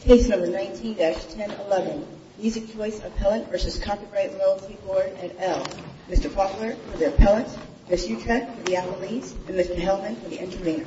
Case No. 19-1011 Music Choice Appellant v. Copyright Loyalty Board at Elm Mr. Faulkner for the Appellant, Ms. Utrecht for the Amelies, and Mr. Hellman for the Intervenor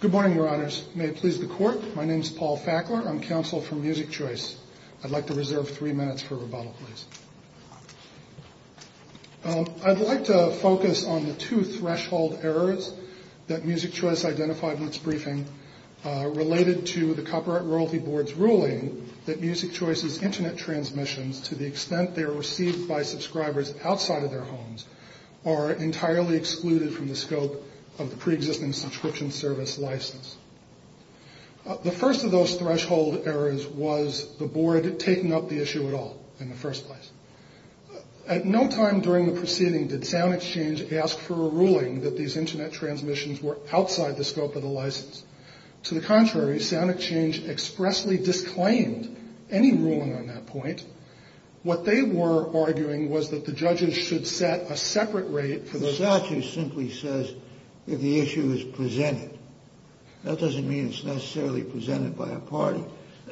Good morning, Your Honors. May it please the Court, my name is Paul Faulkner. I'm counsel for Music Choice. I'd like to reserve three minutes for rebuttal, please. I'd like to focus on the two threshold errors that Music Choice identified in its briefing related to the Copyright Loyalty Board's ruling that Music Choice's internet transmissions to the extent they are received by subscribers outside of their homes are entirely excluded from the scope of the pre-existing subscription service license. The first of those threshold errors was the Board taking up the issue at all in the first place. At no time during the proceeding did SoundExchange ask for a ruling that these internet transmissions were outside the scope of the license. To the contrary, SoundExchange expressly disclaimed any ruling on that point. What they were arguing was that the judges should set a separate rate for the- The statute simply says if the issue is presented. That doesn't mean it's necessarily presented by a party.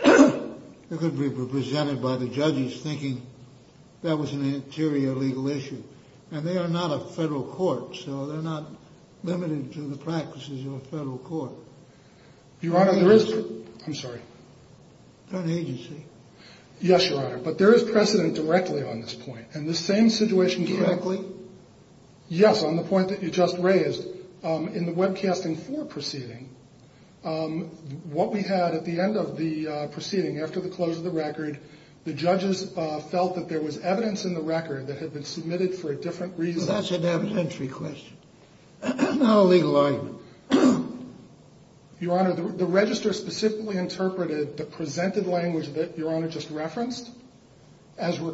It could be presented by the judges thinking that was an interior legal issue. And they are not a federal court, so they're not limited to the practices of a federal court. Your Honor, there is- I'm sorry. They're an agency. Yes, Your Honor, but there is precedent directly on this point. And the same situation- Directly? Yes, on the point that you just raised. In the webcasting 4 proceeding, what we had at the end of the proceeding after the close of the record, the judges felt that there was evidence in the record that had been submitted for a different reason. That's an evidentiary question, not a legal argument. Your Honor, the register specifically interpreted the presented language that Your Honor just reflected the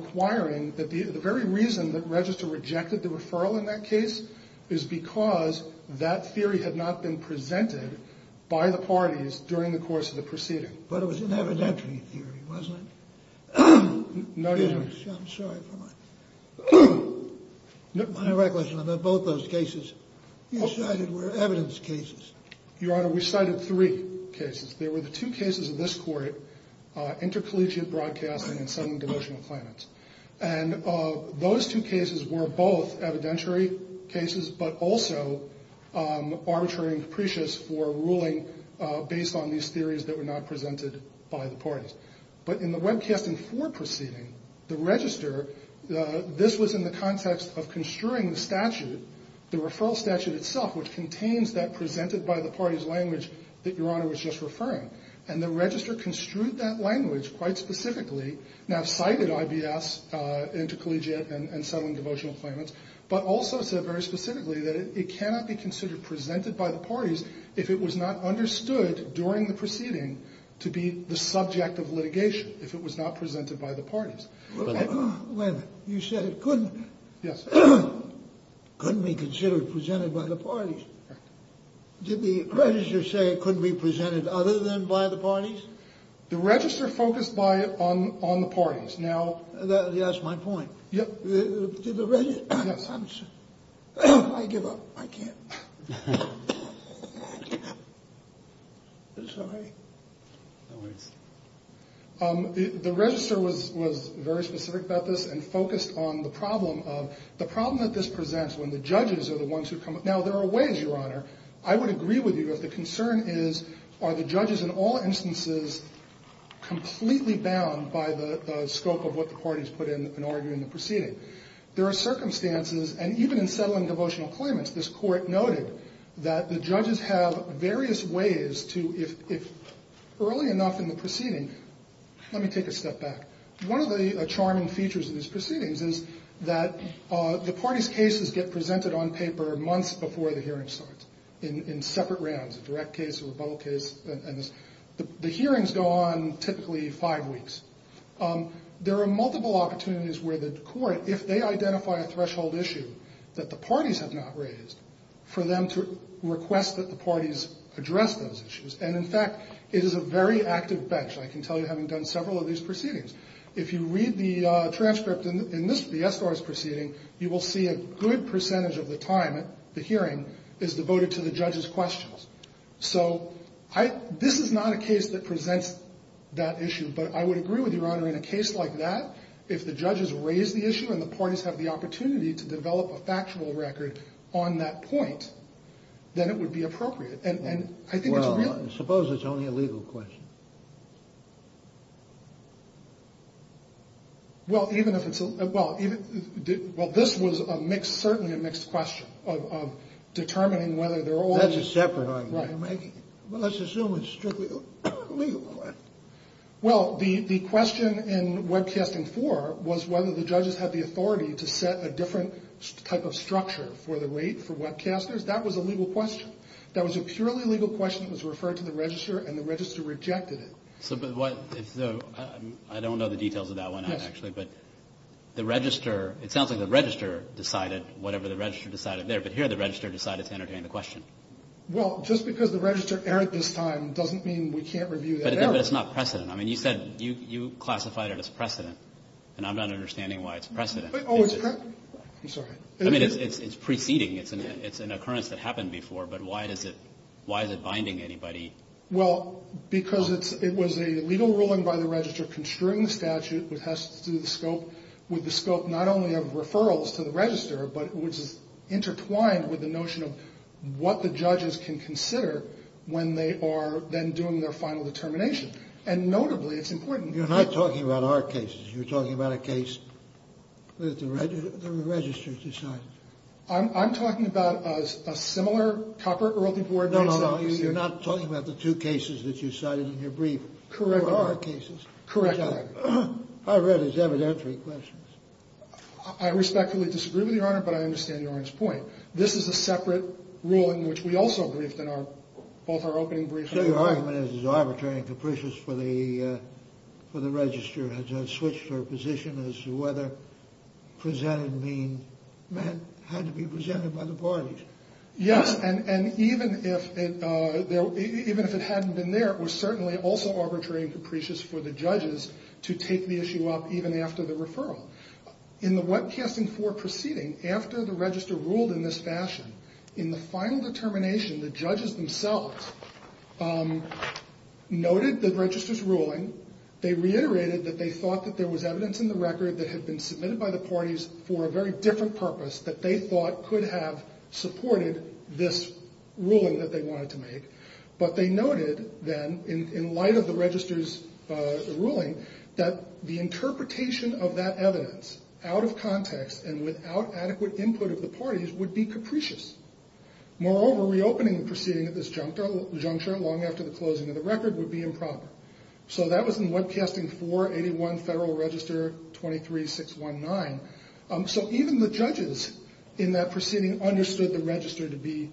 referral in that case is because that theory had not been presented by the parties during the course of the proceeding. But it was an evidentiary theory, wasn't it? No, Your Honor. I'm sorry for my- My recollection of both those cases you cited were evidence cases. Your Honor, we cited three cases. There were the two cases of this court, intercollegiate broadcasting and sudden demotion of claimants. And those two cases were both evidentiary cases but also arbitrary and capricious for ruling based on these theories that were not presented by the parties. But in the webcasting 4 proceeding, the register, this was in the context of construing the statute, the referral statute itself, which contains that presented by the parties language that Your Honor was just referring. And the register construed that language quite specifically, now cited IBS, intercollegiate and sudden devotional claimants, but also said very specifically that it cannot be considered presented by the parties if it was not understood during the proceeding to be the subject of litigation if it was not presented by the parties. Wait a minute. You said it couldn't- Yes. Couldn't be considered presented by the parties. Right. Did the register say it couldn't be presented other than by the parties? The register focused on the parties. Now- That's my point. Yep. Did the register- Yes. I give up. I can't. It's all right. No worries. The register was very specific about this and focused on the problem of, the problem that this presents when the judges are the ones who come up. Now, there are ways, Your Honor, I would agree with you if the concern is, are the judges in all instances completely bound by the scope of what the parties put in an argument in the proceeding? There are circumstances, and even in settling devotional claimants, this Court noted that the judges have various ways to, if early enough in the proceeding- Let me take a step back. One of the charming features of these proceedings is that the parties' cases get presented on paper months before the hearing starts in separate rounds, a direct case or a bubble case. The hearings go on typically five weeks. There are multiple opportunities where the Court, if they identify a threshold issue that the parties have not raised, for them to request that the parties address those issues. And, in fact, it is a very active bench, I can tell you, having done several of these proceedings. If you read the transcript in the Estor's proceeding, you will see a good percentage of the time at the hearing is devoted to the judges' questions. This is not a case that presents that issue, but I would agree with you, Your Honor, in a case like that, if the judges raise the issue and the parties have the opportunity to develop a factual record on that point, then it would be appropriate. And I think it's really- Well, suppose it's only a legal question. Well, even if it's a- Well, this was a mixed, certainly a mixed question of determining whether they're all- That's a separate argument. Right. Well, let's assume it's strictly a legal question. Well, the question in Webcasting 4 was whether the judges had the authority to set a different type of structure for the rate for webcasters. That was a legal question. That was a purely legal question that was referred to the register, and the register rejected it. I don't know the details of that one, actually, but the register- It sounds like the register decided whatever the register decided there, but here the register decided to entertain the question. Well, just because the register erred this time doesn't mean we can't review that error. But it's not precedent. I mean, you said you classified it as precedent, and I'm not understanding why it's precedent. I'm sorry. I mean, it's preceding. It's an occurrence that happened before, but why is it binding anybody? Well, because it was a legal ruling by the register construing the statute which has to do with the scope not only of referrals to the register, but which is intertwined with the notion of what the judges can consider when they are then doing their final determination. And notably, it's important- You're not talking about our cases. You're talking about a case that the register decided. I'm talking about a similar copper Ehrlich Board case- No, no, you're not talking about the two cases that you cited in your brief. Correct. They were our cases. Correct, Your Honor. I read his evidentiary questions. I respectfully disagree with you, Your Honor, but I understand Your Honor's point. This is a separate ruling which we also briefed in both our opening briefs- So your argument is it's arbitrary and capricious for the register. Has that switched her position as to whether presented mean had to be presented by the parties? Yes, and even if it hadn't been there, it was certainly also arbitrary and capricious for the judges to take the issue up even after the referral. In the Webcasting IV proceeding, after the register ruled in this fashion, they reiterated that they thought that there was evidence in the record that had been submitted by the parties for a very different purpose that they thought could have supported this ruling that they wanted to make, but they noted then, in light of the register's ruling, that the interpretation of that evidence, out of context and without adequate input of the parties, would be capricious. Moreover, reopening the proceeding at this juncture long after the closing of the record would be improper. So that was in Webcasting IV, 81 Federal Register, 23-619. So even the judges in that proceeding understood the register to be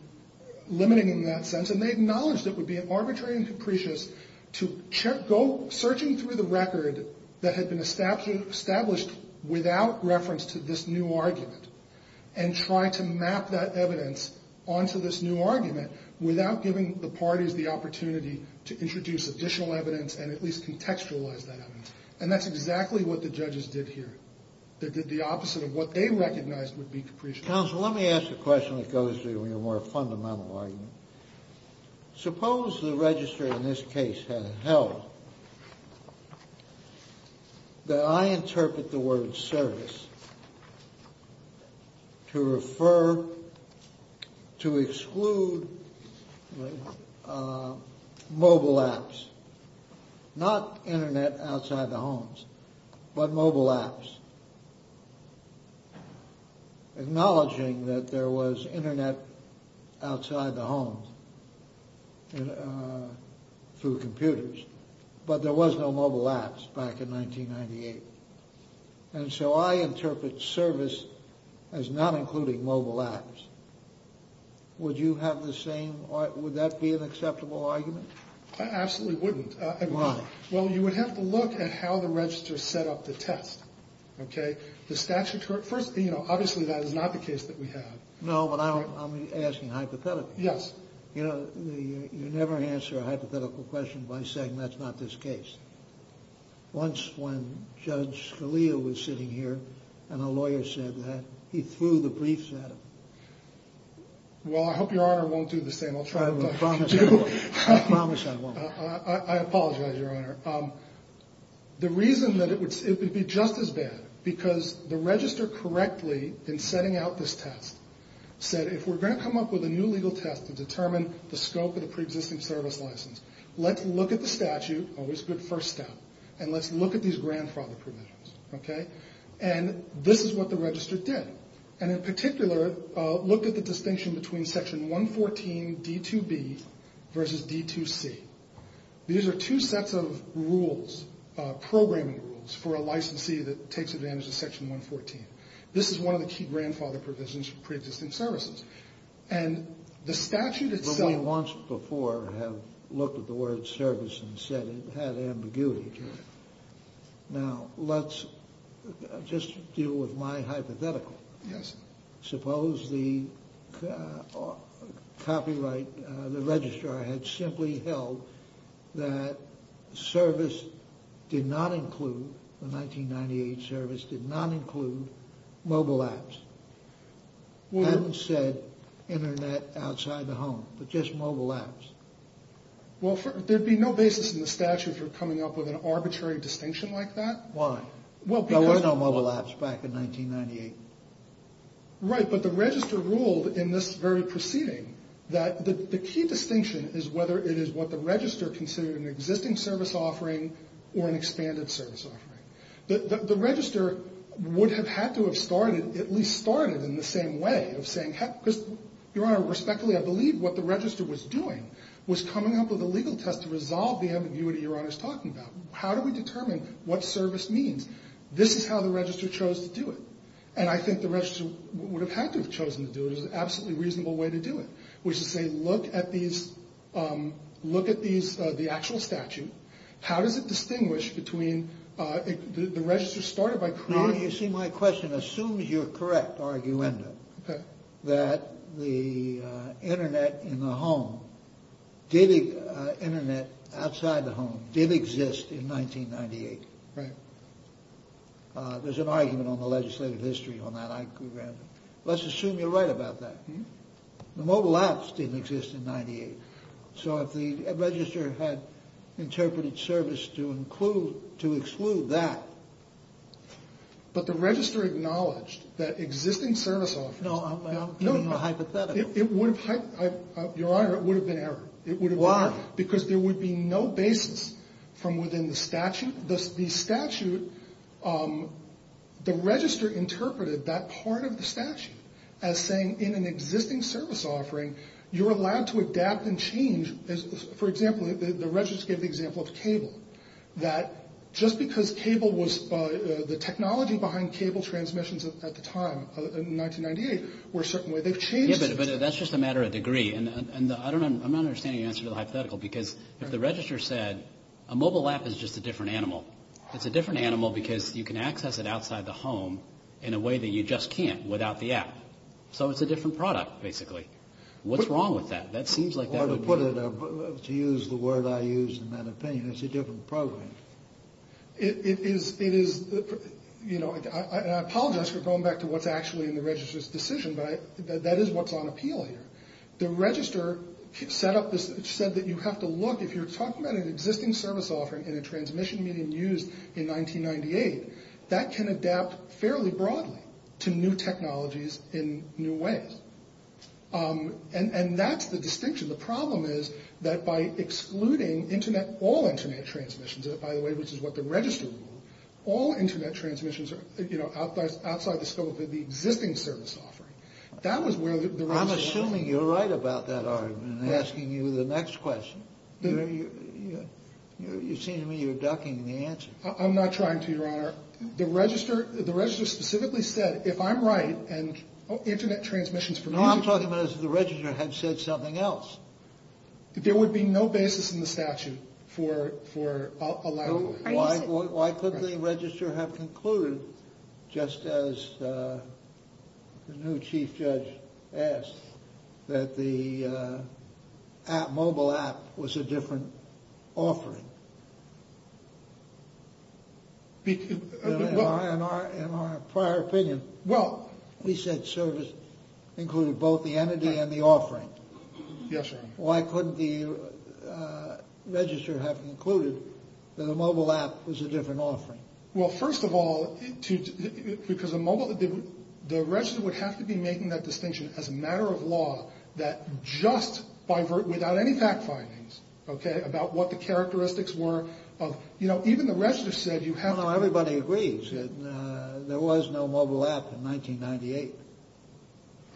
limiting in that sense, and they acknowledged it would be arbitrary and capricious to go searching through the record that had been established without reference to this new argument and try to map that evidence onto this new argument without giving the parties the opportunity to introduce additional evidence and at least contextualize that evidence. And that's exactly what the judges did here. They did the opposite of what they recognized would be capricious. Counsel, let me ask a question that goes to your more fundamental argument. Suppose the register in this case had held that I interpret the word service to refer to exclude mobile apps, not Internet outside the homes, but mobile apps, acknowledging that there was Internet outside the homes through computers, but there was no mobile apps back in 1998. And so I interpret service as not including mobile apps. Would you have the same argument? Would that be an acceptable argument? I absolutely wouldn't. Why? Well, you would have to look at how the register set up the test, okay? The statute, you know, obviously that is not the case that we have. No, but I'm asking hypothetically. Yes. You know, you never answer a hypothetical question by saying that's not this case. Once when Judge Scalia was sitting here and a lawyer said that, he threw the briefs at him. Well, I hope Your Honor won't do the same. I'll try. I promise I won't. I promise I won't. I apologize, Your Honor. The reason that it would be just as bad, because the register correctly in setting out this test, said if we're going to come up with a new legal test to determine the scope of the pre-existing service license, let's look at the statute, always a good first step, and let's look at these grandfather provisions, okay? And this is what the register did. And in particular, look at the distinction between Section 114 D2B versus D2C. These are two sets of rules, programming rules, for a licensee that takes advantage of Section 114. This is one of the key grandfather provisions for pre-existing services. And the statute itself…… had ambiguity to it. Now, let's just deal with my hypothetical. Yes. Suppose the copyright, the registrar, had simply held that service did not include, the 1998 service did not include mobile apps. Hadn't said internet outside the home, but just mobile apps. Well, there'd be no basis in the statute for coming up with an arbitrary distinction like that. Why? Well, because… There was no mobile apps back in 1998. Right, but the register ruled in this very proceeding that the key distinction is whether it is what the register considered an existing service offering or an expanded service offering. The register would have had to have started, at least started in the same way of saying, Your Honor, respectfully, I believe what the register was doing was coming up with a legal test to resolve the ambiguity Your Honor is talking about. How do we determine what service means? This is how the register chose to do it. And I think the register would have had to have chosen to do it. It was an absolutely reasonable way to do it, which is to say, look at these, look at the actual statute. How does it distinguish between, the register started by creating… that the internet in the home, the internet outside the home did exist in 1998. Right. There's an argument on the legislative history on that, I agree with that. Let's assume you're right about that. The mobile apps didn't exist in 1998. So if the register had interpreted service to exclude that… But the register acknowledged that existing service offerings… No, I'm giving you a hypothetical. Your Honor, it would have been error. Why? Because there would be no basis from within the statute. The statute, the register interpreted that part of the statute as saying in an existing service offering, you're allowed to adapt and change. For example, the register gave the example of cable. That just because cable was… the technology behind cable transmissions at the time, in 1998, were a certain way, they've changed since then. Yeah, but that's just a matter of degree. I'm not understanding your answer to the hypothetical, because if the register said a mobile app is just a different animal, it's a different animal because you can access it outside the home in a way that you just can't without the app. So it's a different product, basically. What's wrong with that? To use the word I use in that opinion, it's a different product. It is… I apologize for going back to what's actually in the register's decision, but that is what's on appeal here. The register set up this… said that you have to look, if you're talking about an existing service offering in a transmission medium used in 1998, that can adapt fairly broadly to new technologies in new ways. And that's the distinction. The problem is that by excluding all internet transmissions, by the way, which is what the register ruled, all internet transmissions are outside the scope of the existing service offering. That was where the… I'm assuming you're right about that argument. I'm asking you the next question. You seem to me you're ducking the answer. I'm not trying to, Your Honor. The register specifically said, if I'm right and internet transmissions… No, I'm talking about if the register had said something else. There would be no basis in the statute for allowing… Why couldn't the register have concluded, just as the new chief judge asked, that the mobile app was a different offering? In our prior opinion, we said service included both the entity and the offering. Yes, Your Honor. Why couldn't the register have concluded that a mobile app was a different offering? Well, first of all, because the register would have to be making that distinction as a matter of law that just without any fact findings, okay, about what the characteristics were of… You know, even the register said you have to… No, no, everybody agrees that there was no mobile app in 1998.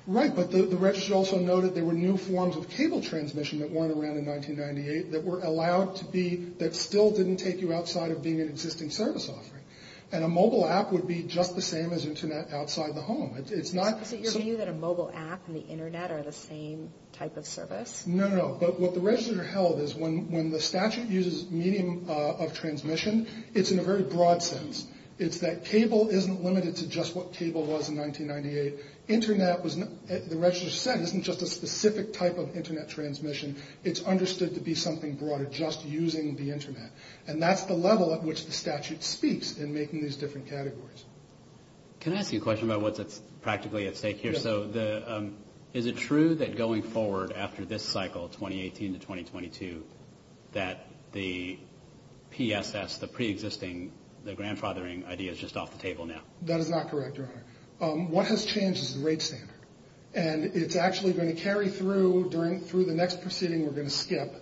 Right, but the register also noted there were new forms of cable transmission that weren't around in 1998 that were allowed to be… that still didn't take you outside of being an existing service offering. And a mobile app would be just the same as internet outside the home. Is it your view that a mobile app and the internet are the same type of service? No, no, but what the register held is when the statute uses medium of transmission, it's in a very broad sense. It's that cable isn't limited to just what cable was in 1998. Internet was… The register said it isn't just a specific type of internet transmission. It's understood to be something broader, just using the internet. And that's the level at which the statute speaks in making these different categories. Can I ask you a question about what's practically at stake here? Yes. So is it true that going forward after this cycle, 2018 to 2022, that the PSS, the pre-existing, the grandfathering idea is just off the table now? That is not correct, Your Honor. What has changed is the rate standard, and it's actually going to carry through the next proceeding we're going to skip,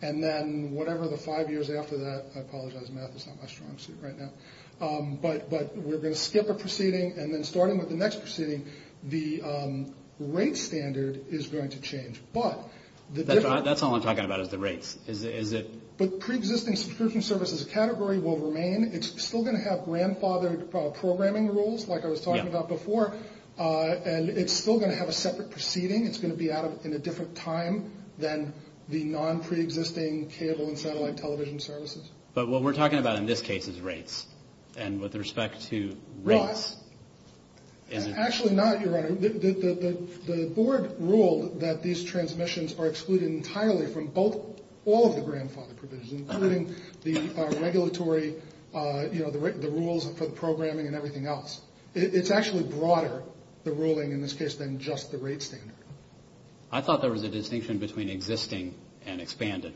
and then whatever the five years after that, I apologize, math is not my strong suit right now, but we're going to skip a proceeding, and then starting with the next proceeding, the rate standard is going to change, but… That's all I'm talking about is the rates. But pre-existing subscription services category will remain. It's still going to have grandfathered programming rules like I was talking about before, and it's still going to have a separate proceeding. It's going to be in a different time than the non-pre-existing cable and satellite television services. But what we're talking about in this case is rates, and with respect to rates… Actually not, Your Honor. The board ruled that these transmissions are excluded entirely from all of the grandfather provisions, including the regulatory, the rules for the programming and everything else. It's actually broader, the ruling in this case, than just the rate standard. I thought there was a distinction between existing and expanded.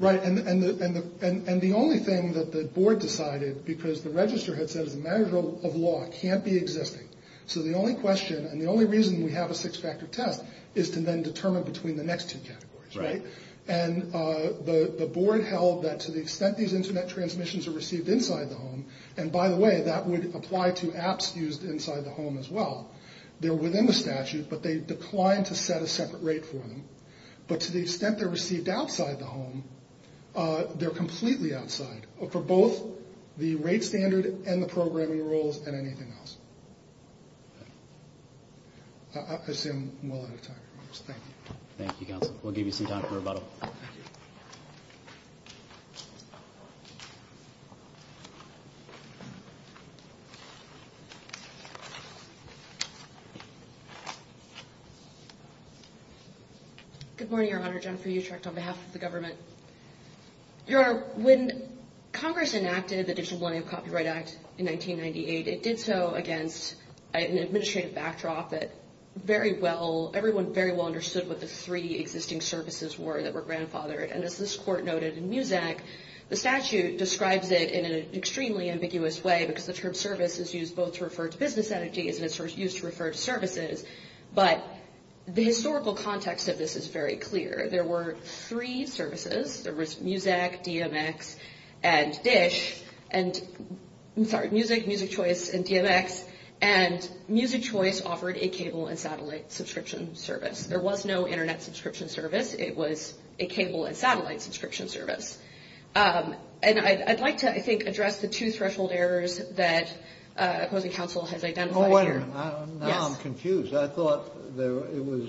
Right, and the only thing that the board decided, because the register had said as a measure of law, can't be existing. So the only question and the only reason we have a six-factor test is to then determine between the next two categories. And the board held that to the extent these Internet transmissions are received inside the home, and by the way, that would apply to apps used inside the home as well, they're within the statute, but they declined to set a separate rate for them. But to the extent they're received outside the home, they're completely outside. For both the rate standard and the programming rules and anything else. I assume we're out of time. Thank you. Thank you, counsel. We'll give you some time for rebuttal. Good morning, Your Honor. Jennifer Utrecht on behalf of the government. Your Honor, when Congress enacted the Digital Millennium Copyright Act in 1998, it did so against an administrative backdrop that everyone very well understood what the three existing services were that were grandfathered. And as this court noted in Muzak, the statute describes it in an extremely ambiguous way because the term service is used both to refer to business entities and it's used to refer to services. But the historical context of this is very clear. There were three services. There was Muzak, DMX, and DISH. And I'm sorry, Muzak, Muzak Choice, and DMX. And Muzak Choice offered a cable and satellite subscription service. There was no Internet subscription service. It was a cable and satellite subscription service. And I'd like to, I think, address the two threshold errors that opposing counsel has identified here. Now I'm confused. I thought it was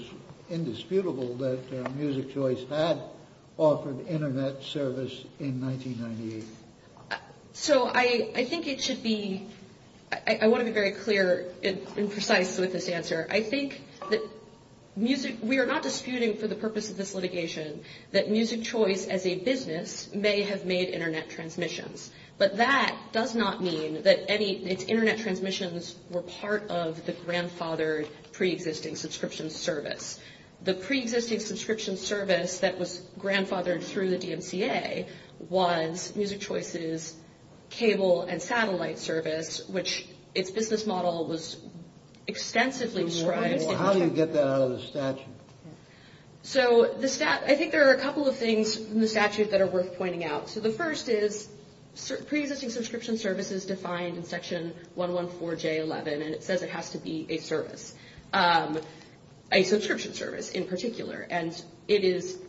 indisputable that Muzak Choice had offered Internet service in 1998. So I think it should be, I want to be very clear and precise with this answer. I think that Muzak, we are not disputing for the purpose of this litigation, that Muzak Choice as a business may have made Internet transmissions. But that does not mean that any, its Internet transmissions were part of the grandfathered pre-existing subscription service. The pre-existing subscription service that was grandfathered through the DMCA was Muzak Choice's cable and satellite service, which its business model was extensively described. How do you get that out of the statute? So I think there are a couple of things in the statute that are worth pointing out. So the first is pre-existing subscription service is defined in section 114J11, and it says it has to be a service, a subscription service in particular. And it is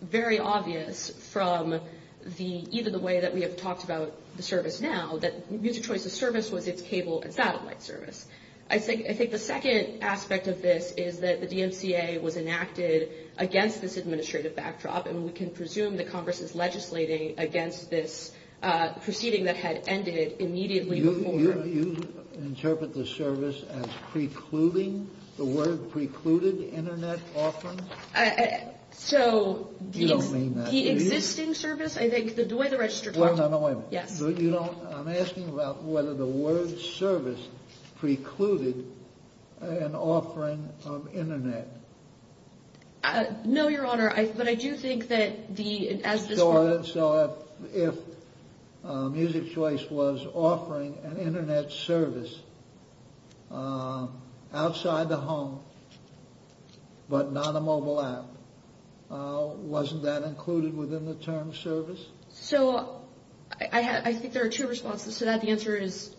very obvious from the, either the way that we have talked about the service now, that Muzak Choice's service was its cable and satellite service. I think the second aspect of this is that the DMCA was enacted against this administrative backdrop, and we can presume that Congress is legislating against this proceeding that had ended immediately before. You interpret the service as precluding, the word precluded, Internet offering? So the existing service, I think, the way the register talks. Well, no, no, wait a minute. Yes. I'm asking about whether the word service precluded an offering of Internet. No, Your Honor, but I do think that the, as this. So if Muzak Choice was offering an Internet service outside the home, but not a mobile app, wasn't that included within the term service? So I think there are two responses to that. The answer is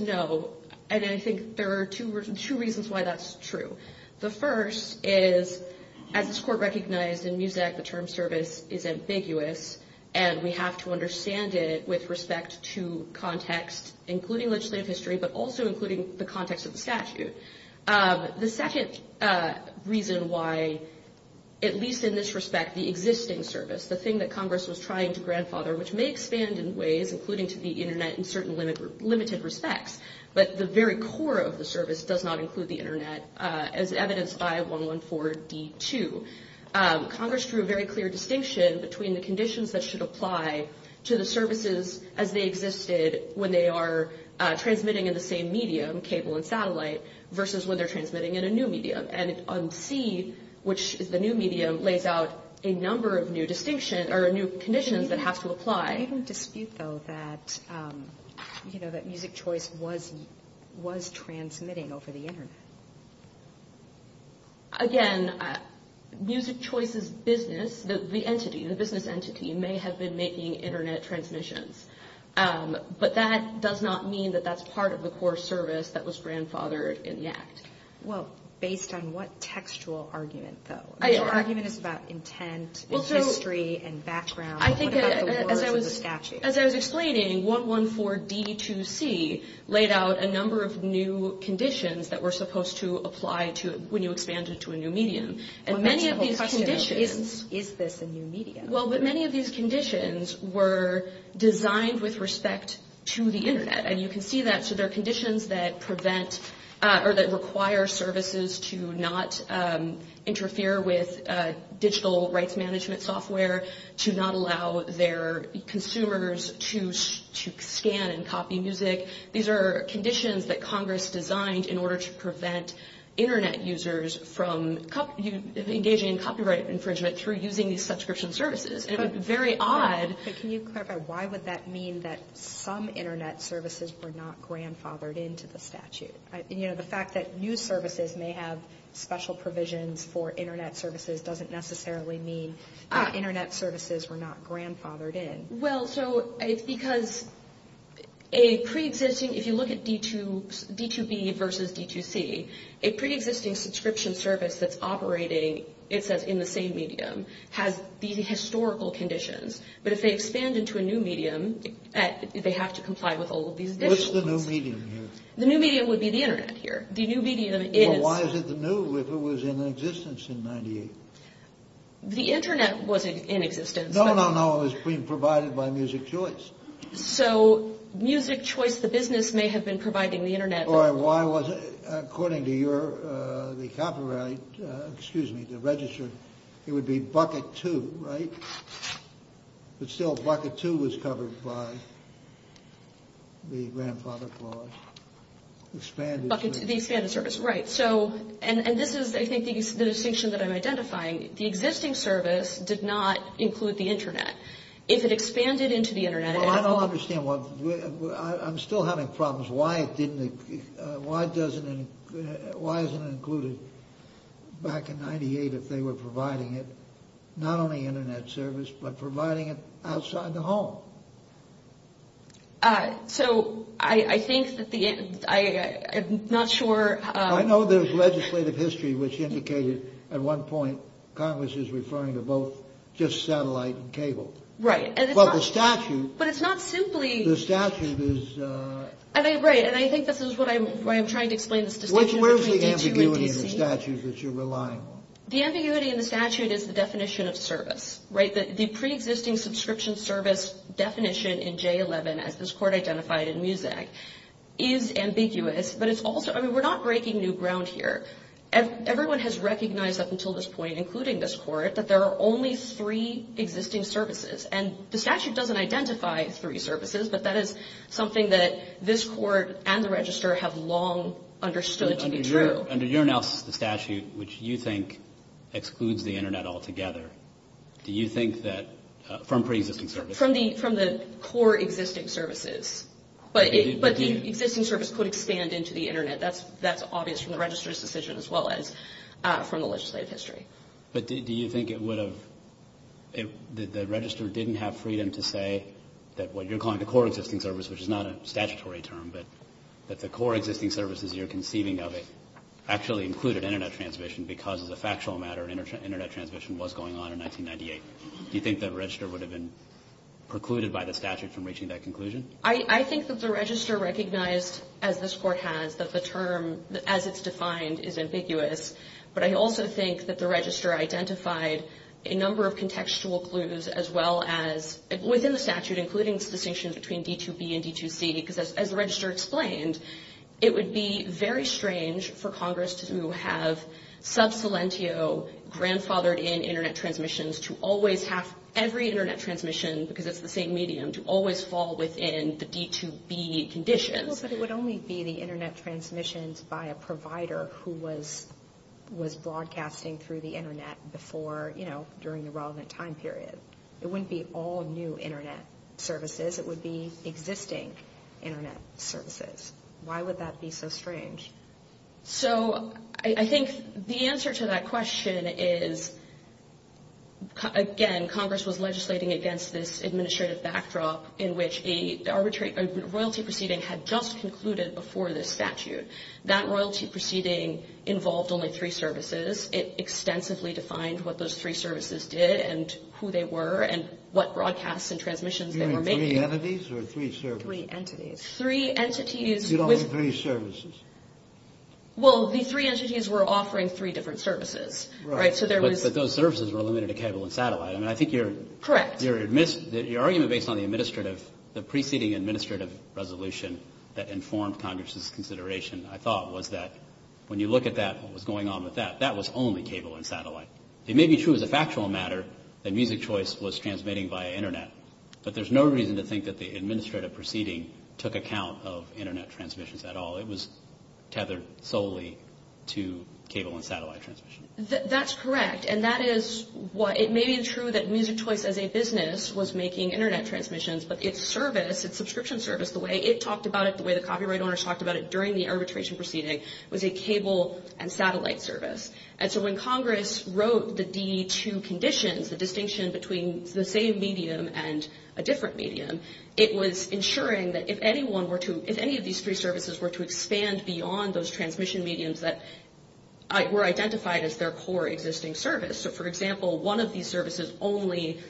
no, and I think there are two reasons why that's true. The first is, as this Court recognized in Muzak, the term service is ambiguous, and we have to understand it with respect to context, including legislative history, but also including the context of the statute. The second reason why, at least in this respect, the existing service, the thing that Congress was trying to grandfather, which may expand in ways, including to the Internet in certain limited respects, but the very core of the service does not include the Internet, as evidenced by 114D2. Congress drew a very clear distinction between the conditions that should apply to the services as they existed when they are transmitting in the same medium, cable and satellite, versus when they're transmitting in a new medium. And on C, which is the new medium, lays out a number of new conditions that have to apply. I don't dispute, though, that Muzak Choice was transmitting over the Internet. Again, Muzak Choice's business, the entity, the business entity, may have been making Internet transmissions, but that does not mean that that's part of the core service that was grandfathered in the Act. Well, based on what textual argument, though? The argument is about intent, history, and background. What about the words of the statute? As I was explaining, 114D2C laid out a number of new conditions that were supposed to apply when you expanded to a new medium. Well, that's the whole question, is this a new medium? Well, many of these conditions were designed with respect to the Internet, and you can see that. So there are conditions that prevent or that require services to not interfere with digital rights management software, to not allow their consumers to scan and copy music. These are conditions that Congress designed in order to prevent Internet users from engaging in copyright infringement through using these subscription services. It's very odd. But can you clarify, why would that mean that some Internet services were not grandfathered into the statute? You know, the fact that new services may have special provisions for Internet services doesn't necessarily mean that Internet services were not grandfathered in. Well, so it's because a preexisting, if you look at D2B versus D2C, a preexisting subscription service that's operating, it says, in the same medium, has these historical conditions. But if they expand into a new medium, they have to comply with all of these additional conditions. What's the new medium here? The new medium would be the Internet here. The new medium is... Well, why is it the new if it was in existence in 98? The Internet was in existence. No, no, no, it was being provided by Music Choice. So Music Choice, the business, may have been providing the Internet. Why wasn't it? According to the copyright, excuse me, the register, it would be Bucket 2, right? But still, Bucket 2 was covered by the grandfather clause. Expanded service. The expanded service, right. So, and this is, I think, the distinction that I'm identifying. The existing service did not include the Internet. If it expanded into the Internet... Well, I don't understand. I'm still having problems. Why isn't it included back in 98 if they were providing it? Not only Internet service, but providing it outside the home. So, I think that the... I'm not sure... I know there's legislative history which indicated at one point Congress is referring to both just satellite and cable. Right. But the statute... But it's not simply... The statute is... Right. And I think this is why I'm trying to explain this distinction between D2 and D3. Where's the ambiguity in the statute that you're relying on? The ambiguity in the statute is the definition of service, right? The pre-existing subscription service definition in J11, as this court identified in MUSAC, is ambiguous. But it's also... I mean, we're not breaking new ground here. Everyone has recognized up until this point, including this court, that there are only three existing services. And the statute doesn't identify three services, but that is something that this court and the register have long understood to be true. Under your analysis of the statute, which you think excludes the Internet altogether, do you think that... From pre-existing services. From the core existing services. But the existing service could expand into the Internet. That's obvious from the register's decision as well as from the legislative history. But do you think it would have... The register didn't have freedom to say that what you're calling the core existing service, which is not a statutory term, but that the core existing services you're conceiving of actually included Internet transmission because, as a factual matter, Internet transmission was going on in 1998. Do you think that register would have been precluded by the statute from reaching that conclusion? I think that the register recognized, as this court has, that the term, as it's defined, is ambiguous. But I also think that the register identified a number of contextual clues as well as, within the statute, including the distinction between D2B and D2C, because, as the register explained, it would be very strange for Congress to have sub salientio, grandfathered-in Internet transmissions, to always have every Internet transmission, because it's the same medium, to always fall within the D2B conditions. But it would only be the Internet transmissions by a provider who was broadcasting through the Internet before, during the relevant time period. It wouldn't be all new Internet services. It would be existing Internet services. Why would that be so strange? So I think the answer to that question is, again, Congress was legislating against this administrative backdrop in which a royalty proceeding had just concluded before this statute. That royalty proceeding involved only three services. It extensively defined what those three services did and who they were and what broadcasts and transmissions they were making. You mean three entities or three services? Three entities. Three entities. You don't mean three services. Well, the three entities were offering three different services. Right. But those services were limited to cable and satellite. Correct. Your argument based on the preceding administrative resolution that informed Congress's consideration, I thought, was that when you look at what was going on with that, that was only cable and satellite. It may be true as a factual matter that Music Choice was transmitting via Internet, but there's no reason to think that the administrative proceeding took account of Internet transmissions at all. It was tethered solely to cable and satellite transmission. That's correct. And that is why it may be true that Music Choice as a business was making Internet transmissions, but its service, its subscription service, the way it talked about it, the way the copyright owners talked about it during the arbitration proceeding, was a cable and satellite service. And so when Congress wrote the DE2 conditions, the distinction between the same medium and a different medium, it was ensuring that if any of these three services were to expand beyond those transmission mediums that were identified as their core existing service. So, for example, one of these services only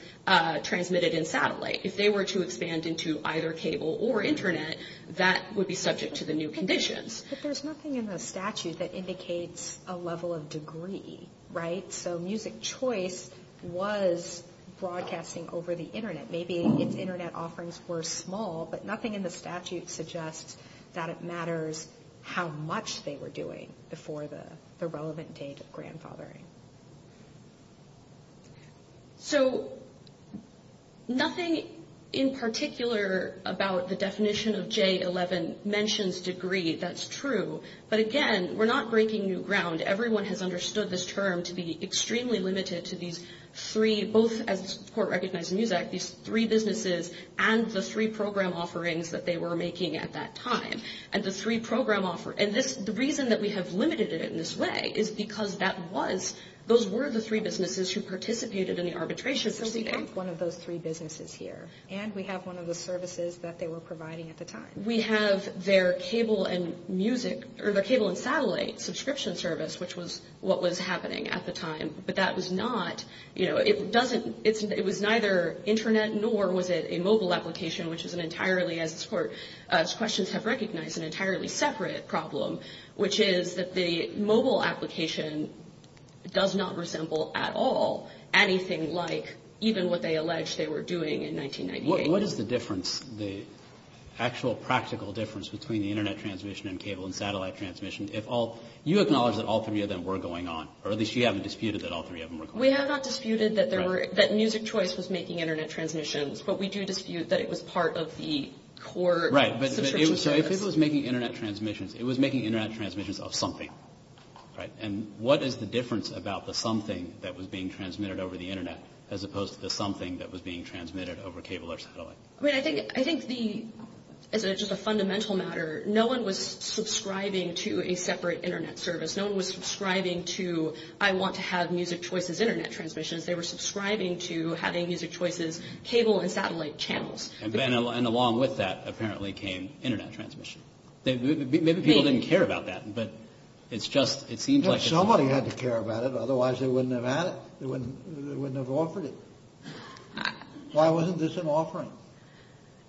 transmitted in satellite. If they were to expand into either cable or Internet, that would be subject to the new conditions. But there's nothing in the statute that indicates a level of degree, right? So Music Choice was broadcasting over the Internet. Maybe its Internet offerings were small, but nothing in the statute suggests that it matters how much they were doing before the relevant date of grandfathering. So nothing in particular about the definition of J-11 mentions degree. That's true. But, again, we're not breaking new ground. Everyone has understood this term to be extremely limited to these three, both as the court recognized in MUSE Act, these three businesses and the three program offerings that they were making at that time. And the reason that we have limited it in this way is because those were the three businesses who participated in the arbitration proceeding. So we have one of those three businesses here. And we have one of the services that they were providing at the time. We have their cable and satellite subscription service, which was what was happening at the time. But that was not, you know, it doesn't, it was neither Internet nor was it a mobile application, which was an entirely, as this Court's questions have recognized, an entirely separate problem, which is that the mobile application does not resemble at all anything like even what they allege they were doing in 1998. What is the difference, the actual practical difference between the Internet transmission and cable and satellite transmission? If all, you acknowledge that all three of them were going on, or at least you haven't disputed that all three of them were going on. We have not disputed that there were, that MUSIC Choice was making Internet transmissions, but we do dispute that it was part of the court subscription service. Right, but if it was making Internet transmissions, it was making Internet transmissions of something, right? And what is the difference about the something that was being transmitted over the Internet as opposed to the something that was being transmitted over cable or satellite? I mean, I think, I think the, as a, just a fundamental matter, no one was subscribing to a separate Internet service. No one was subscribing to, I want to have MUSIC Choice's Internet transmissions. They were subscribing to having MUSIC Choice's cable and satellite channels. And then, and along with that apparently came Internet transmission. Maybe people didn't care about that, but it's just, it seems like it's... Somebody had to care about it, otherwise they wouldn't have had it, they wouldn't have offered it. Why wasn't this an offering?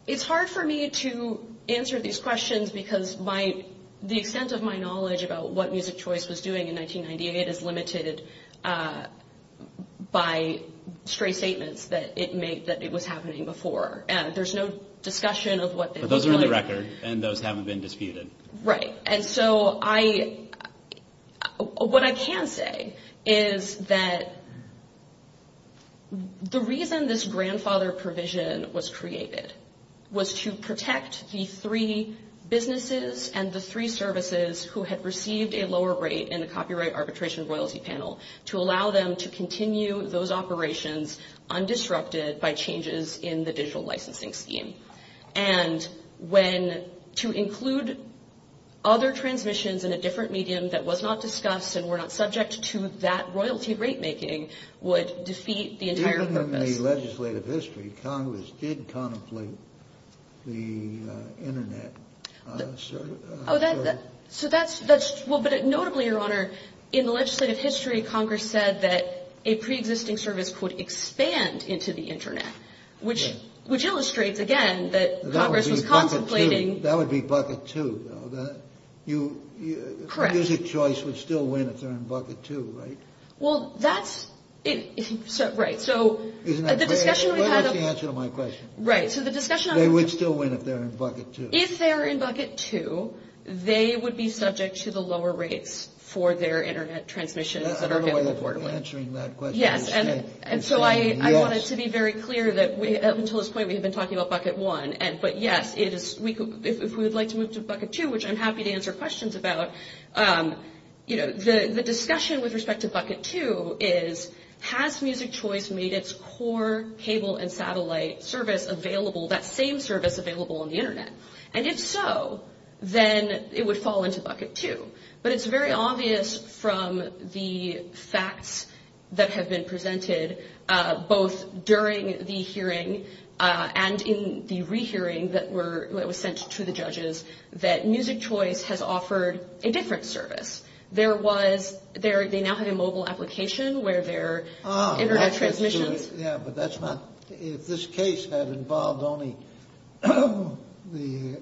It's hard for me to answer these questions because my, the extent of my knowledge about what MUSIC Choice was doing in 1998 is limited by stray statements that it made, that it was happening before. There's no discussion of what... But those are in the record, and those haven't been disputed. Right, and so I, what I can say is that the reason this grandfather provision was created was to protect the three businesses and the three services who had received a lower rate in the copyright arbitration royalty panel to allow them to continue those operations undisrupted by changes in the digital licensing scheme. And when, to include other transmissions in a different medium that was not discussed and were not subject to that royalty rate making would defeat the entire purpose. Even in the legislative history, Congress did contemplate the Internet service. So that's, well, but notably, Your Honor, in the legislative history, Congress said that a pre-existing service could expand into the Internet. Which illustrates, again, that Congress was contemplating... That would be bucket two, though. Correct. MUSIC Choice would still win if they're in bucket two, right? Well, that's... Right, so... Isn't that correct? That is the answer to my question. Right, so the discussion... They would still win if they're in bucket two. If they're in bucket two, they would be subject to the lower rates for their Internet transmissions that are available for them. I don't know why you're answering that question. Yes, and so I wanted to be very clear that, up until this point, we had been talking about bucket one. But, yes, if we would like to move to bucket two, which I'm happy to answer questions about, the discussion with respect to bucket two is, has MUSIC Choice made its core cable and satellite service available, that same service available on the Internet? And if so, then it would fall into bucket two. But it's very obvious from the facts that have been presented, both during the hearing and in the rehearing that was sent to the judges, that MUSIC Choice has offered a different service. There was... They now have a mobile application where their Internet transmissions... Yeah, but that's not... If this case had involved only the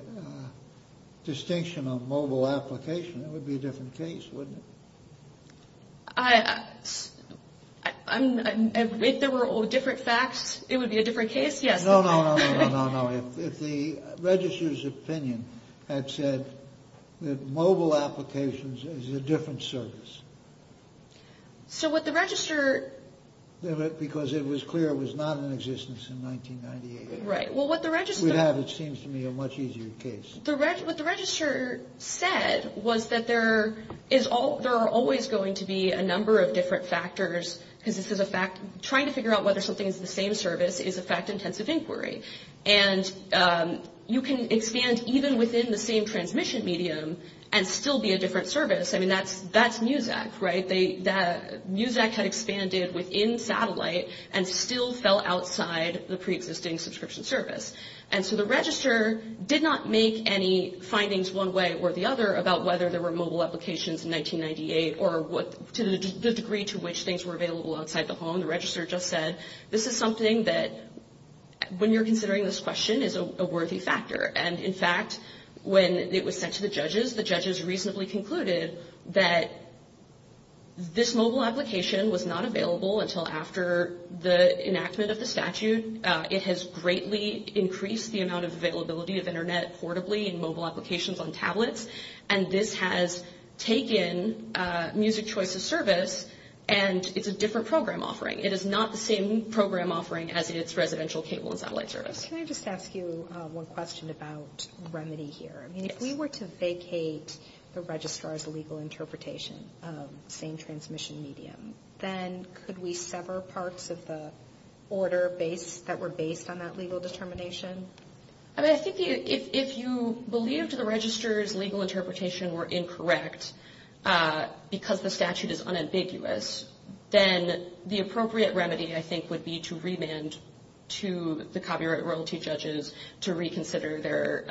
distinction of mobile application, it would be a different case, wouldn't it? If there were all different facts, it would be a different case, yes. No, no, no, no, no, no. If the registrar's opinion had said that mobile applications is a different service... So what the registrar... Because it was clear it was not in existence in 1998. Right. Well, what the registrar... We'd have, it seems to me, a much easier case. What the registrar said was that there are always going to be a number of different factors, because this is a fact... Trying to figure out whether something is the same service is a fact-intensive inquiry. And you can expand even within the same transmission medium and still be a different service. I mean, that's MUSAC, right? MUSAC had expanded within satellite and still fell outside the preexisting subscription service. And so the registrar did not make any findings one way or the other about whether there were mobile applications in 1998 or the degree to which things were available outside the home. The registrar just said, this is something that, when you're considering this question, is a worthy factor. And, in fact, when it was sent to the judges, the judges reasonably concluded that this mobile application was not available until after the enactment of the statute. It has greatly increased the amount of availability of Internet portably in mobile applications on tablets. And this has taken MUSAC's choice of service, and it's a different program offering. It is not the same program offering as its residential cable and satellite service. Can I just ask you one question about remedy here? Yes. If we were to vacate the registrar's legal interpretation of the same transmission medium, then could we sever parts of the order that were based on that legal determination? I mean, I think if you believed the registrar's legal interpretation were incorrect because the statute is unambiguous, then the appropriate remedy, I think, would be to remand to the copyright royalty judges to reconsider their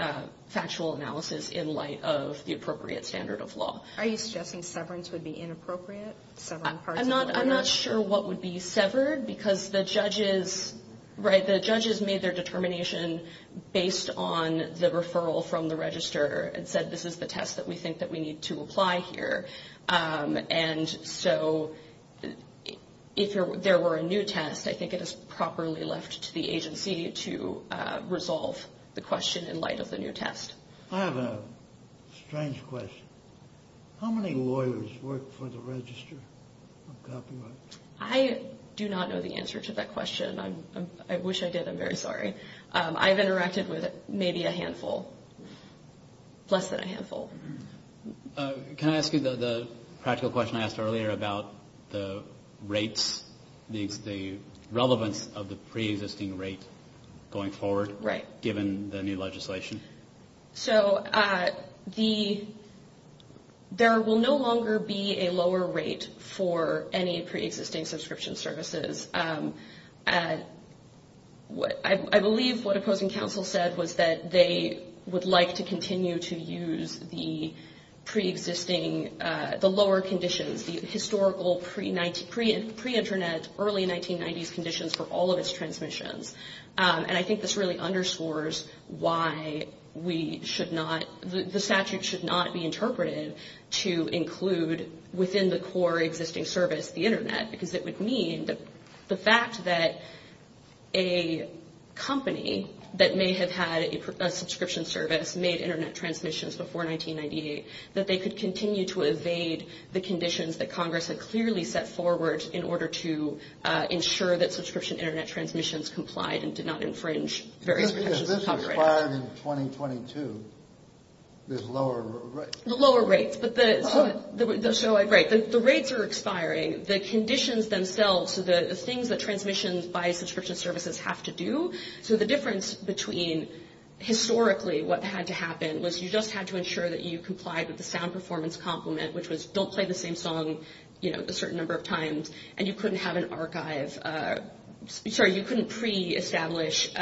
factual analysis in light of the appropriate standard of law. Are you suggesting severance would be inappropriate? I'm not sure what would be severed because the judges made their determination based on the referral from the registrar and said this is the test that we think that we need to apply here. And so if there were a new test, I think it is properly left to the agency to resolve the question in light of the new test. I have a strange question. How many lawyers work for the registrar of copyright? I do not know the answer to that question. I wish I did. I'm very sorry. I've interacted with maybe a handful, less than a handful. Can I ask you the practical question I asked earlier about the rates, the relevance of the preexisting rate going forward, given the new legislation? So there will no longer be a lower rate for any preexisting subscription services. I believe what opposing counsel said was that they would like to continue to use the preexisting, the lower conditions, the historical pre-Internet, early 1990s conditions for all of its transmissions. And I think this really underscores why we should not, the statute should not be interpreted to include within the core existing service, the Internet, because it would mean the fact that a company that may have had a subscription service made Internet transmissions before 1998, that they could continue to evade the conditions that Congress had clearly set forward in order to ensure that subscription Internet transmissions complied and did not infringe various protections of copyright. If this expires in 2022, there's lower rates. Lower rates. Right. The rates are expiring. The conditions themselves, the things that transmissions by subscription services have to do. So the difference between historically what had to happen was you just had to ensure that you complied with the sound performance compliment, which was don't play the same song a certain number of times, and you couldn't have an archive. Sorry, you couldn't pre-establish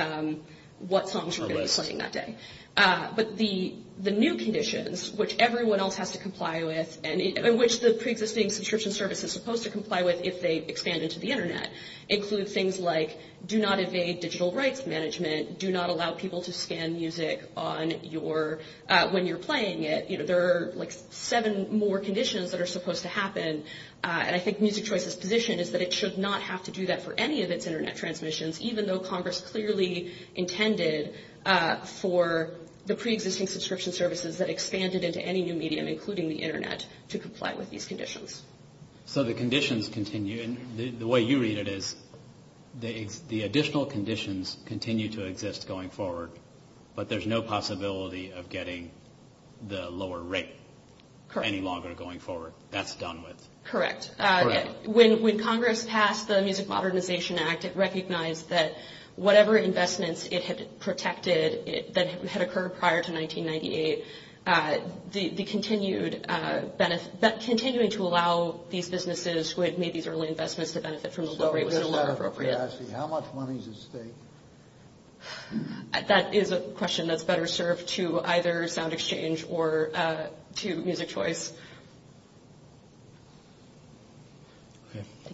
what songs you were going to be playing that day. But the new conditions, which everyone else has to comply with, and which the pre-existing subscription service is supposed to comply with if they expand into the Internet, include things like do not evade digital rights management, do not allow people to scan music when you're playing it. There are like seven more conditions that are supposed to happen. And I think Music Choice's position is that it should not have to do that for any of its Internet transmissions, even though Congress clearly intended for the pre-existing subscription services that expanded into any new medium, including the Internet, to comply with these conditions. So the conditions continue. And the way you read it is the additional conditions continue to exist going forward, but there's no possibility of getting the lower rate any longer going forward. That's done with. Correct. Correct. When Congress passed the Music Modernization Act, it recognized that whatever investments it had protected that had occurred prior to 1998, the continuing to allow these businesses who had made these early investments to benefit from the lower rate was no longer appropriate. How much money is at stake? That is a question that's better served to either SoundExchange or to Music Choice.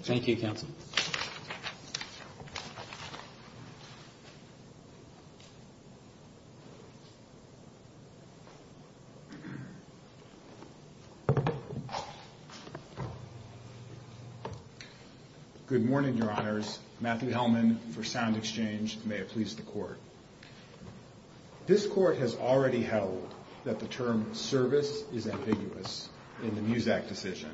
Thank you. Good morning, Your Honors. Matthew Hellman for SoundExchange. May it please the Court. This Court has already held that the term service is ambiguous in the MUSAC decision.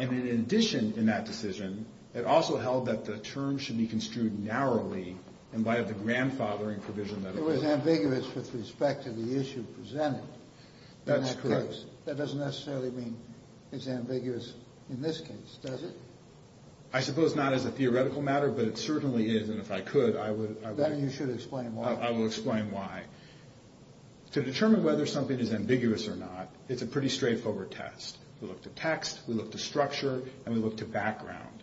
And in addition in that decision, it also held that the term should be construed narrowly in light of the grandfathering provision. It was ambiguous with respect to the issue presented. That's correct. That doesn't necessarily mean it's ambiguous in this case, does it? I suppose not as a theoretical matter, but it certainly is. And if I could, I would. Then you should explain why. I will explain why. To determine whether something is ambiguous or not, it's a pretty straightforward test. We look to text, we look to structure, and we look to background.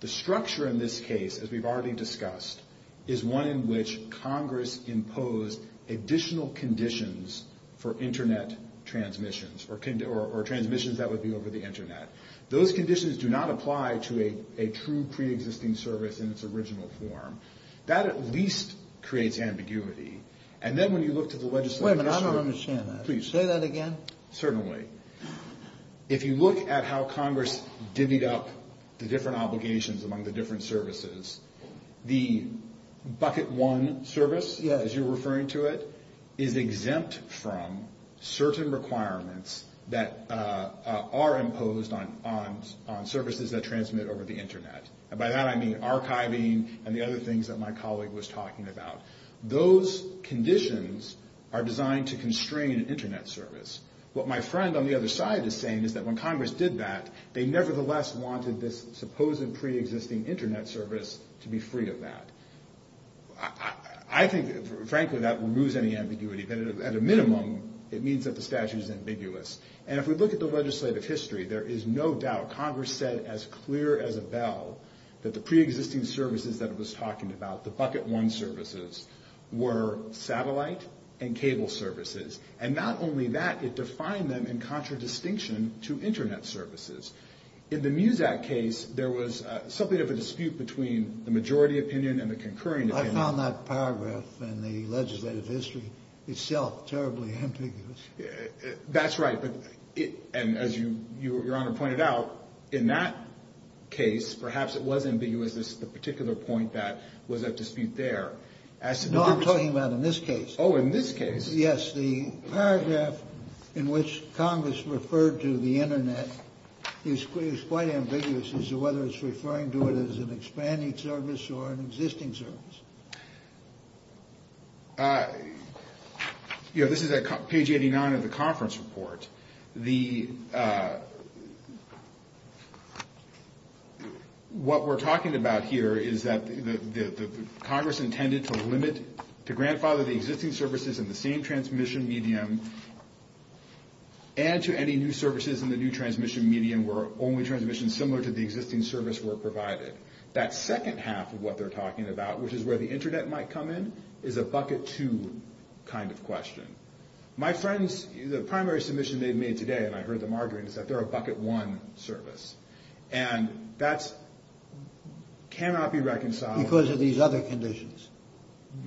The structure in this case, as we've already discussed, is one in which Congress imposed additional conditions for Internet transmissions or transmissions that would be over the Internet. Those conditions do not apply to a true preexisting service in its original form. That at least creates ambiguity. And then when you look to the legislative issue... Wait a minute, I don't understand that. Please. Say that again. Certainly. If you look at how Congress divvied up the different obligations among the different services, the bucket one service, as you're referring to it, is exempt from certain requirements that are imposed on services that transmit over the Internet. And by that I mean archiving and the other things that my colleague was talking about. Those conditions are designed to constrain Internet service. What my friend on the other side is saying is that when Congress did that, they nevertheless wanted this supposed preexisting Internet service to be free of that. I think, frankly, that removes any ambiguity. At a minimum, it means that the statute is ambiguous. And if we look at the legislative history, there is no doubt Congress said as clear as a bell that the preexisting services that it was talking about, the bucket one services, were satellite and cable services. And not only that, it defined them in contradistinction to Internet services. In the MUSE Act case, there was something of a dispute between the majority opinion and the concurring opinion. I found that paragraph in the legislative history itself terribly ambiguous. That's right. And as Your Honor pointed out, in that case, perhaps it was ambiguous, the particular point that was at dispute there. No, I'm talking about in this case. Oh, in this case. Yes. The paragraph in which Congress referred to the Internet is quite ambiguous as to whether it's referring to it as an expanding service or an existing service. You know, this is at page 89 of the conference report. What we're talking about here is that Congress intended to limit, to grandfather the existing services in the same transmission medium and to any new services in the new transmission medium where only transmissions similar to the existing service were provided. That second half of what they're talking about, which is where the Internet might come in, is a bucket two kind of question. My friends, the primary submission they've made today, and I heard them arguing, is that they're a bucket one service. And that cannot be reconciled. Because of these other conditions.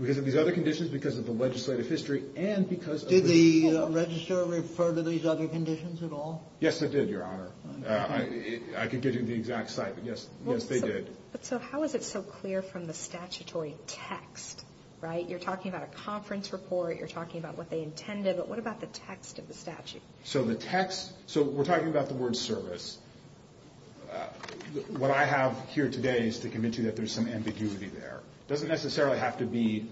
Because of these other conditions, because of the legislative history, and because of the… Did the register refer to these other conditions at all? Yes, it did, Your Honor. I can give you the exact site, but yes, they did. But so how is it so clear from the statutory text, right? You're talking about a conference report. You're talking about what they intended. But what about the text of the statute? So the text… So we're talking about the word service. What I have here today is to convince you that there's some ambiguity there. It doesn't necessarily have to be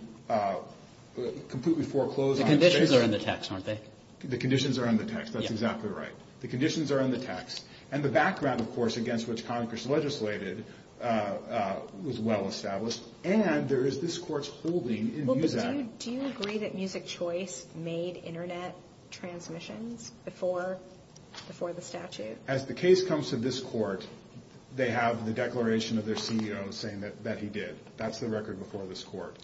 completely foreclosed on. The conditions are in the text, aren't they? The conditions are in the text. That's exactly right. The conditions are in the text. And the background, of course, against which Congress legislated was well-established. And there is this Court's holding in Muzak. Do you agree that Music Choice made Internet transmissions before the statute? As the case comes to this Court, they have the declaration of their CEO saying that he did. That's the record before this Court.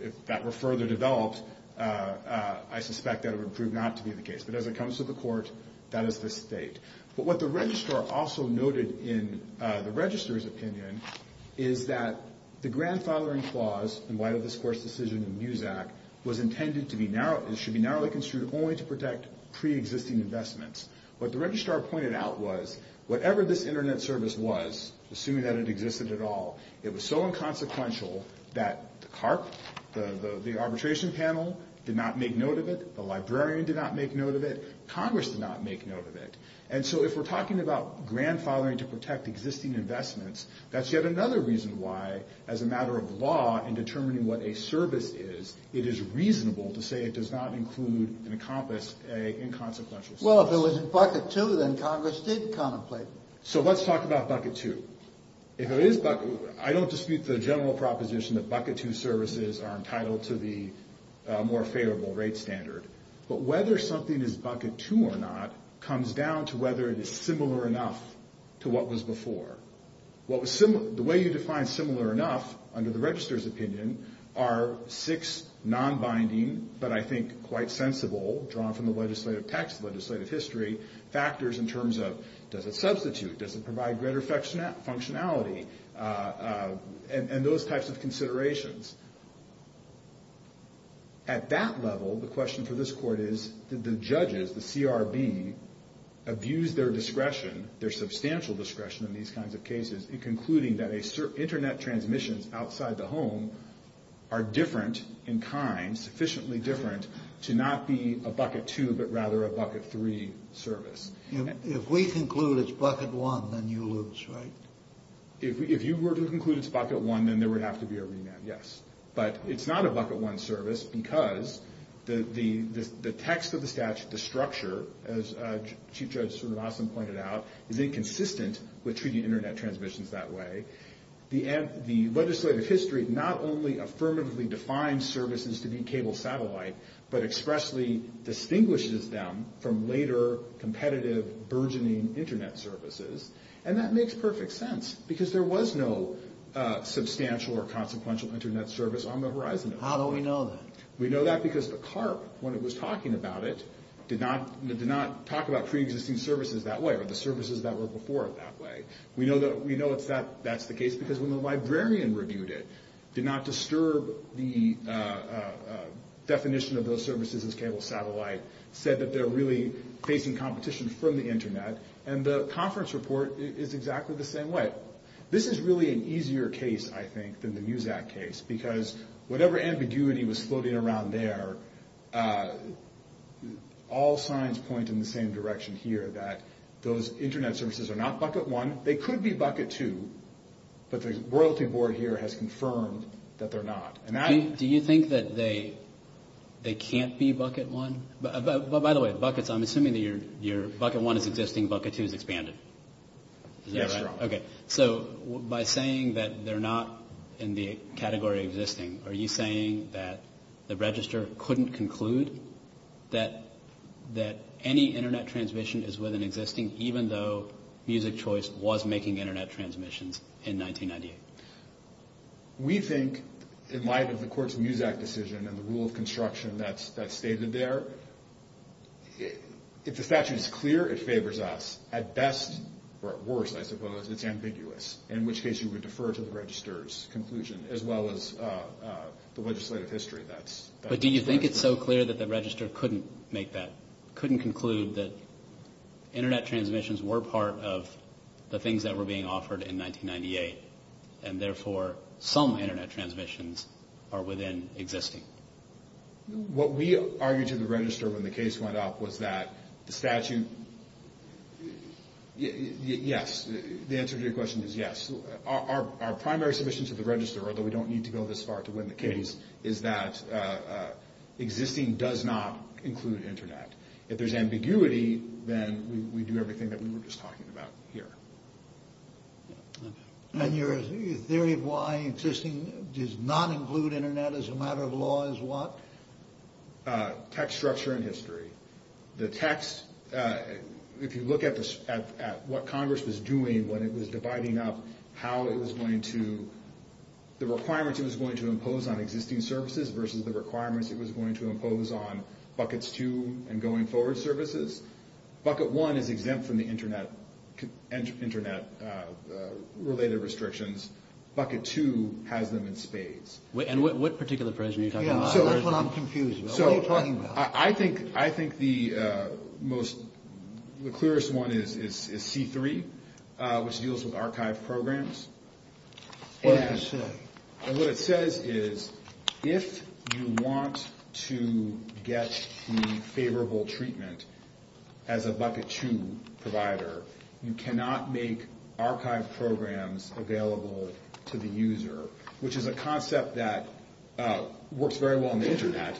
If that were further developed, I suspect that it would prove not to be the case. But as it comes to the Court, that is the state. But what the Registrar also noted in the Registrar's opinion is that the grandfathering clause in light of this Court's decision in Muzak was intended to be narrow…it should be narrowly construed only to protect pre-existing investments. What the Registrar pointed out was whatever this Internet service was, assuming that it existed at all, it was so inconsequential that the CARP, the arbitration panel, did not make note of it. The librarian did not make note of it. Congress did not make note of it. And so if we're talking about grandfathering to protect existing investments, that's yet another reason why, as a matter of law in determining what a service is, it is reasonable to say it does not include and encompass an inconsequential service. Well, if it was in Bucket 2, then Congress did contemplate. So let's talk about Bucket 2. I don't dispute the general proposition that Bucket 2 services are entitled to the more favorable rate standard. But whether something is Bucket 2 or not comes down to whether it is similar enough to what was before. The way you define similar enough, under the Registrar's opinion, are six non-binding, but I think quite sensible, drawn from the legislative text, legislative history, factors in terms of does it substitute, does it provide greater functionality, and those types of considerations. At that level, the question for this Court is, did the judges, the CRB, abuse their discretion, their substantial discretion in these kinds of cases, in concluding that internet transmissions outside the home are different in kind, sufficiently different, to not be a Bucket 2, but rather a Bucket 3 service. If we conclude it's Bucket 1, then you lose, right? If you were to conclude it's Bucket 1, then there would have to be a remand, yes. But it's not a Bucket 1 service because the text of the statute, the structure, as Chief Judge Srinivasan pointed out, is inconsistent with treating internet transmissions that way. The legislative history not only affirmatively defines services to be cable satellite, but expressly distinguishes them from later, competitive, burgeoning internet services. And that makes perfect sense, because there was no substantial or consequential internet service on the horizon. How do we know that? We know that because the CARB, when it was talking about it, did not talk about pre-existing services that way, or the services that were before it that way. We know that's the case because when the librarian reviewed it, did not disturb the definition of those services as cable satellite, said that they're really facing competition from the internet, and the conference report is exactly the same way. This is really an easier case, I think, than the MUSAC case, because whatever ambiguity was floating around there, all signs point in the same direction here, that those internet services are not Bucket 1. They could be Bucket 2, but the Royalty Board here has confirmed that they're not. Do you think that they can't be Bucket 1? By the way, Buckets, I'm assuming that your Bucket 1 is existing, Bucket 2 is expanded. Is that right? Yes, Your Honor. Okay. So by saying that they're not in the category of existing, are you saying that the register couldn't conclude that any internet transmission is within existing, even though Music Choice was making internet transmissions in 1998? We think, in light of the Court's MUSAC decision and the rule of construction that's stated there, if the statute is clear, it favors us. At best, or at worst, I suppose, it's ambiguous, in which case you would defer to the register's conclusion, as well as the legislative history. But do you think it's so clear that the register couldn't make that, couldn't conclude that internet transmissions were part of the things that were being offered in 1998, and therefore some internet transmissions are within existing? What we argued to the register when the case went up was that the statute, yes. The answer to your question is yes. Our primary submission to the register, although we don't need to go this far to win the case, is that existing does not include internet. If there's ambiguity, then we do everything that we were just talking about here. And your theory of why existing does not include internet as a matter of law is what? Text structure and history. The text, if you look at what Congress was doing when it was dividing up how it was going to, the requirements it was going to impose on existing services versus the requirements it was going to impose on buckets two and going forward services. Bucket one is exempt from the internet-related restrictions. Bucket two has them in spades. And what particular provision are you talking about? So that's what I'm confused about. What are you talking about? I think the clearest one is C3, which deals with archived programs. And what it says is if you want to get the favorable treatment as a bucket two provider, you cannot make archived programs available to the user, which is a concept that works very well on the internet.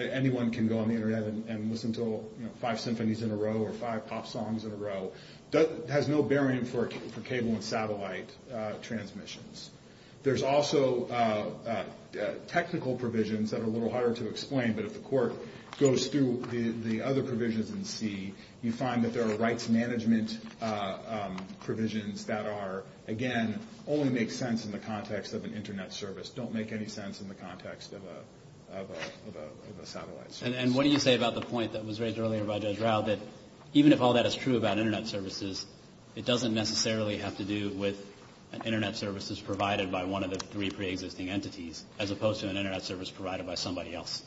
Anyone can go on the internet and listen to five symphonies in a row or five pop songs in a row. It has no bearing for cable and satellite transmissions. There's also technical provisions that are a little harder to explain, but if the court goes through the other provisions in C, you find that there are rights management provisions that are, again, only make sense in the context of an internet service, don't make any sense in the context of a satellite service. And what do you say about the point that was raised earlier by Judge Rao, that even if all that is true about internet services, it doesn't necessarily have to do with an internet service that's provided by one of the three preexisting entities, as opposed to an internet service provided by somebody else?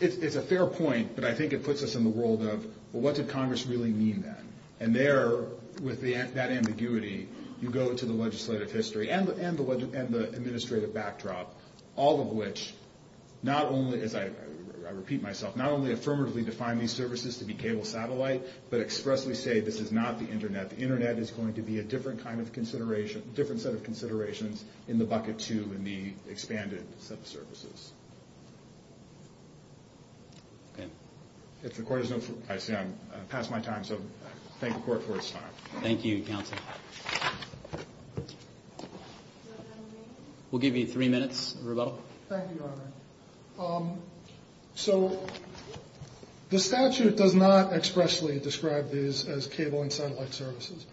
It's a fair point, but I think it puts us in the world of, well, what did Congress really mean then? And there, with that ambiguity, you go to the legislative history and the administrative backdrop, all of which not only, as I repeat myself, not only affirmatively define these services to be cable-satellite, but expressly say this is not the internet. The internet is going to be a different set of considerations in the bucket two in the expanded set of services. Okay. If the court has no further... I see I'm past my time, so thank the court for its time. Thank you, counsel. We'll give you three minutes, Roberto. Thank you, Your Honor. So the statute does not expressly describe these as cable and satellite services.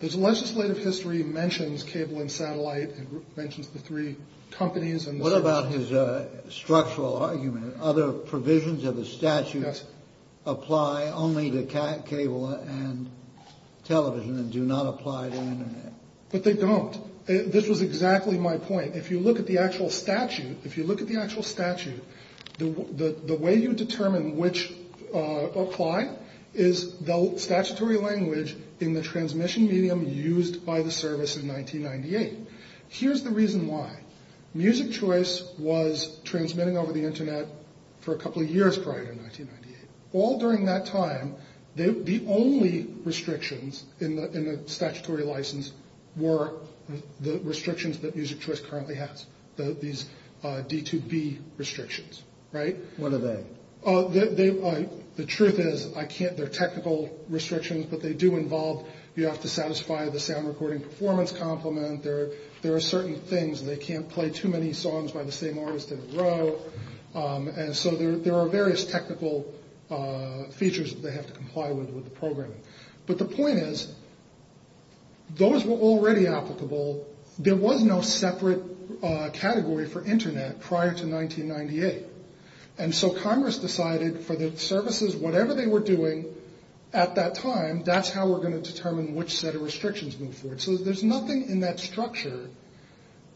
The legislative history mentions cable and satellite, it mentions the three companies and services. What about his structural argument? Other provisions of the statute apply only to cable and television and do not apply to the internet. But they don't. This was exactly my point. If you look at the actual statute, if you look at the actual statute, the way you determine which apply is the statutory language in the transmission medium used by the service in 1998. Here's the reason why. Music Choice was transmitting over the internet for a couple of years prior to 1998. All during that time, the only restrictions in the statutory license were the restrictions that Music Choice currently has, these D2B restrictions, right? What are they? The truth is, they're technical restrictions, but they do involve, you have to satisfy the sound recording performance complement, there are certain things, they can't play too many songs by the same artist in a row, and so there are various technical features that they have to comply with with the programming. But the point is, those were already applicable. There was no separate category for internet prior to 1998, and so Congress decided for the services, whatever they were doing at that time, that's how we're going to determine which set of restrictions move forward. So there's nothing in that structure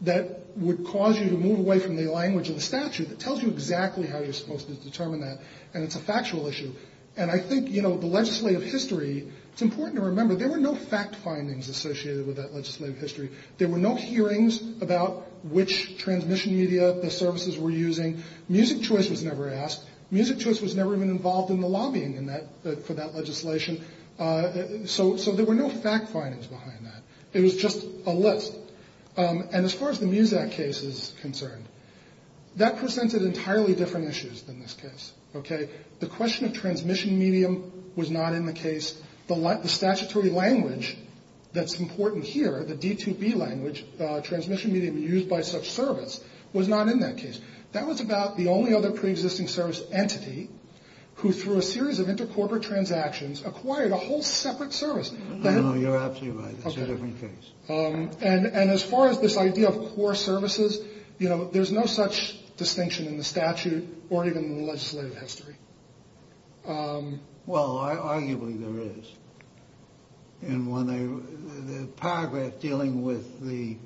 that would cause you to move away from the language of the statute that tells you exactly how you're supposed to determine that, and it's a factual issue. And I think the legislative history, it's important to remember, there were no fact findings associated with that legislative history. There were no hearings about which transmission media the services were using. Music Choice was never asked. Music Choice was never even involved in the lobbying for that legislation. So there were no fact findings behind that. It was just a list. And as far as the MUSAC case is concerned, that presented entirely different issues than this case. The question of transmission medium was not in the case. The statutory language that's important here, the D2B language, transmission medium used by such service, was not in that case. That was about the only other preexisting service entity who, through a series of intercorporate transactions, acquired a whole separate service. No, you're absolutely right. That's a different case. And as far as this idea of core services, you know, there's no such distinction in the statute or even in the legislative history. Well, arguably there is. And the paragraph dealing with the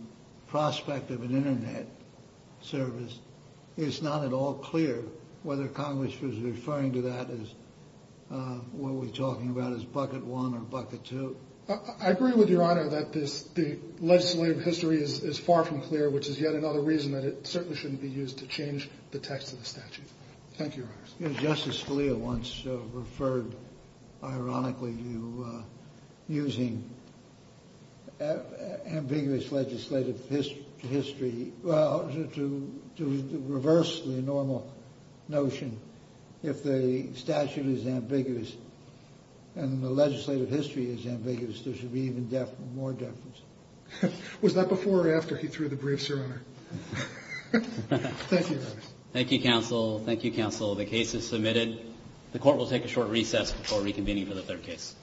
prospect of an Internet service, it's not at all clear whether Congress was referring to that as, what we're talking about as bucket one or bucket two. I agree with Your Honor that the legislative history is far from clear, which is yet another reason that it certainly shouldn't be used to change the text of the statute. Thank you, Your Honors. Justice Scalia once referred, ironically, to using ambiguous legislative history to reverse the normal notion. If the statute is ambiguous and the legislative history is ambiguous, there should be even more deference. Was that before or after he threw the briefs, Your Honor? Thank you, Your Honor. Thank you, counsel. Thank you, counsel. The case is submitted. The court will take a short recess before reconvening for the third case.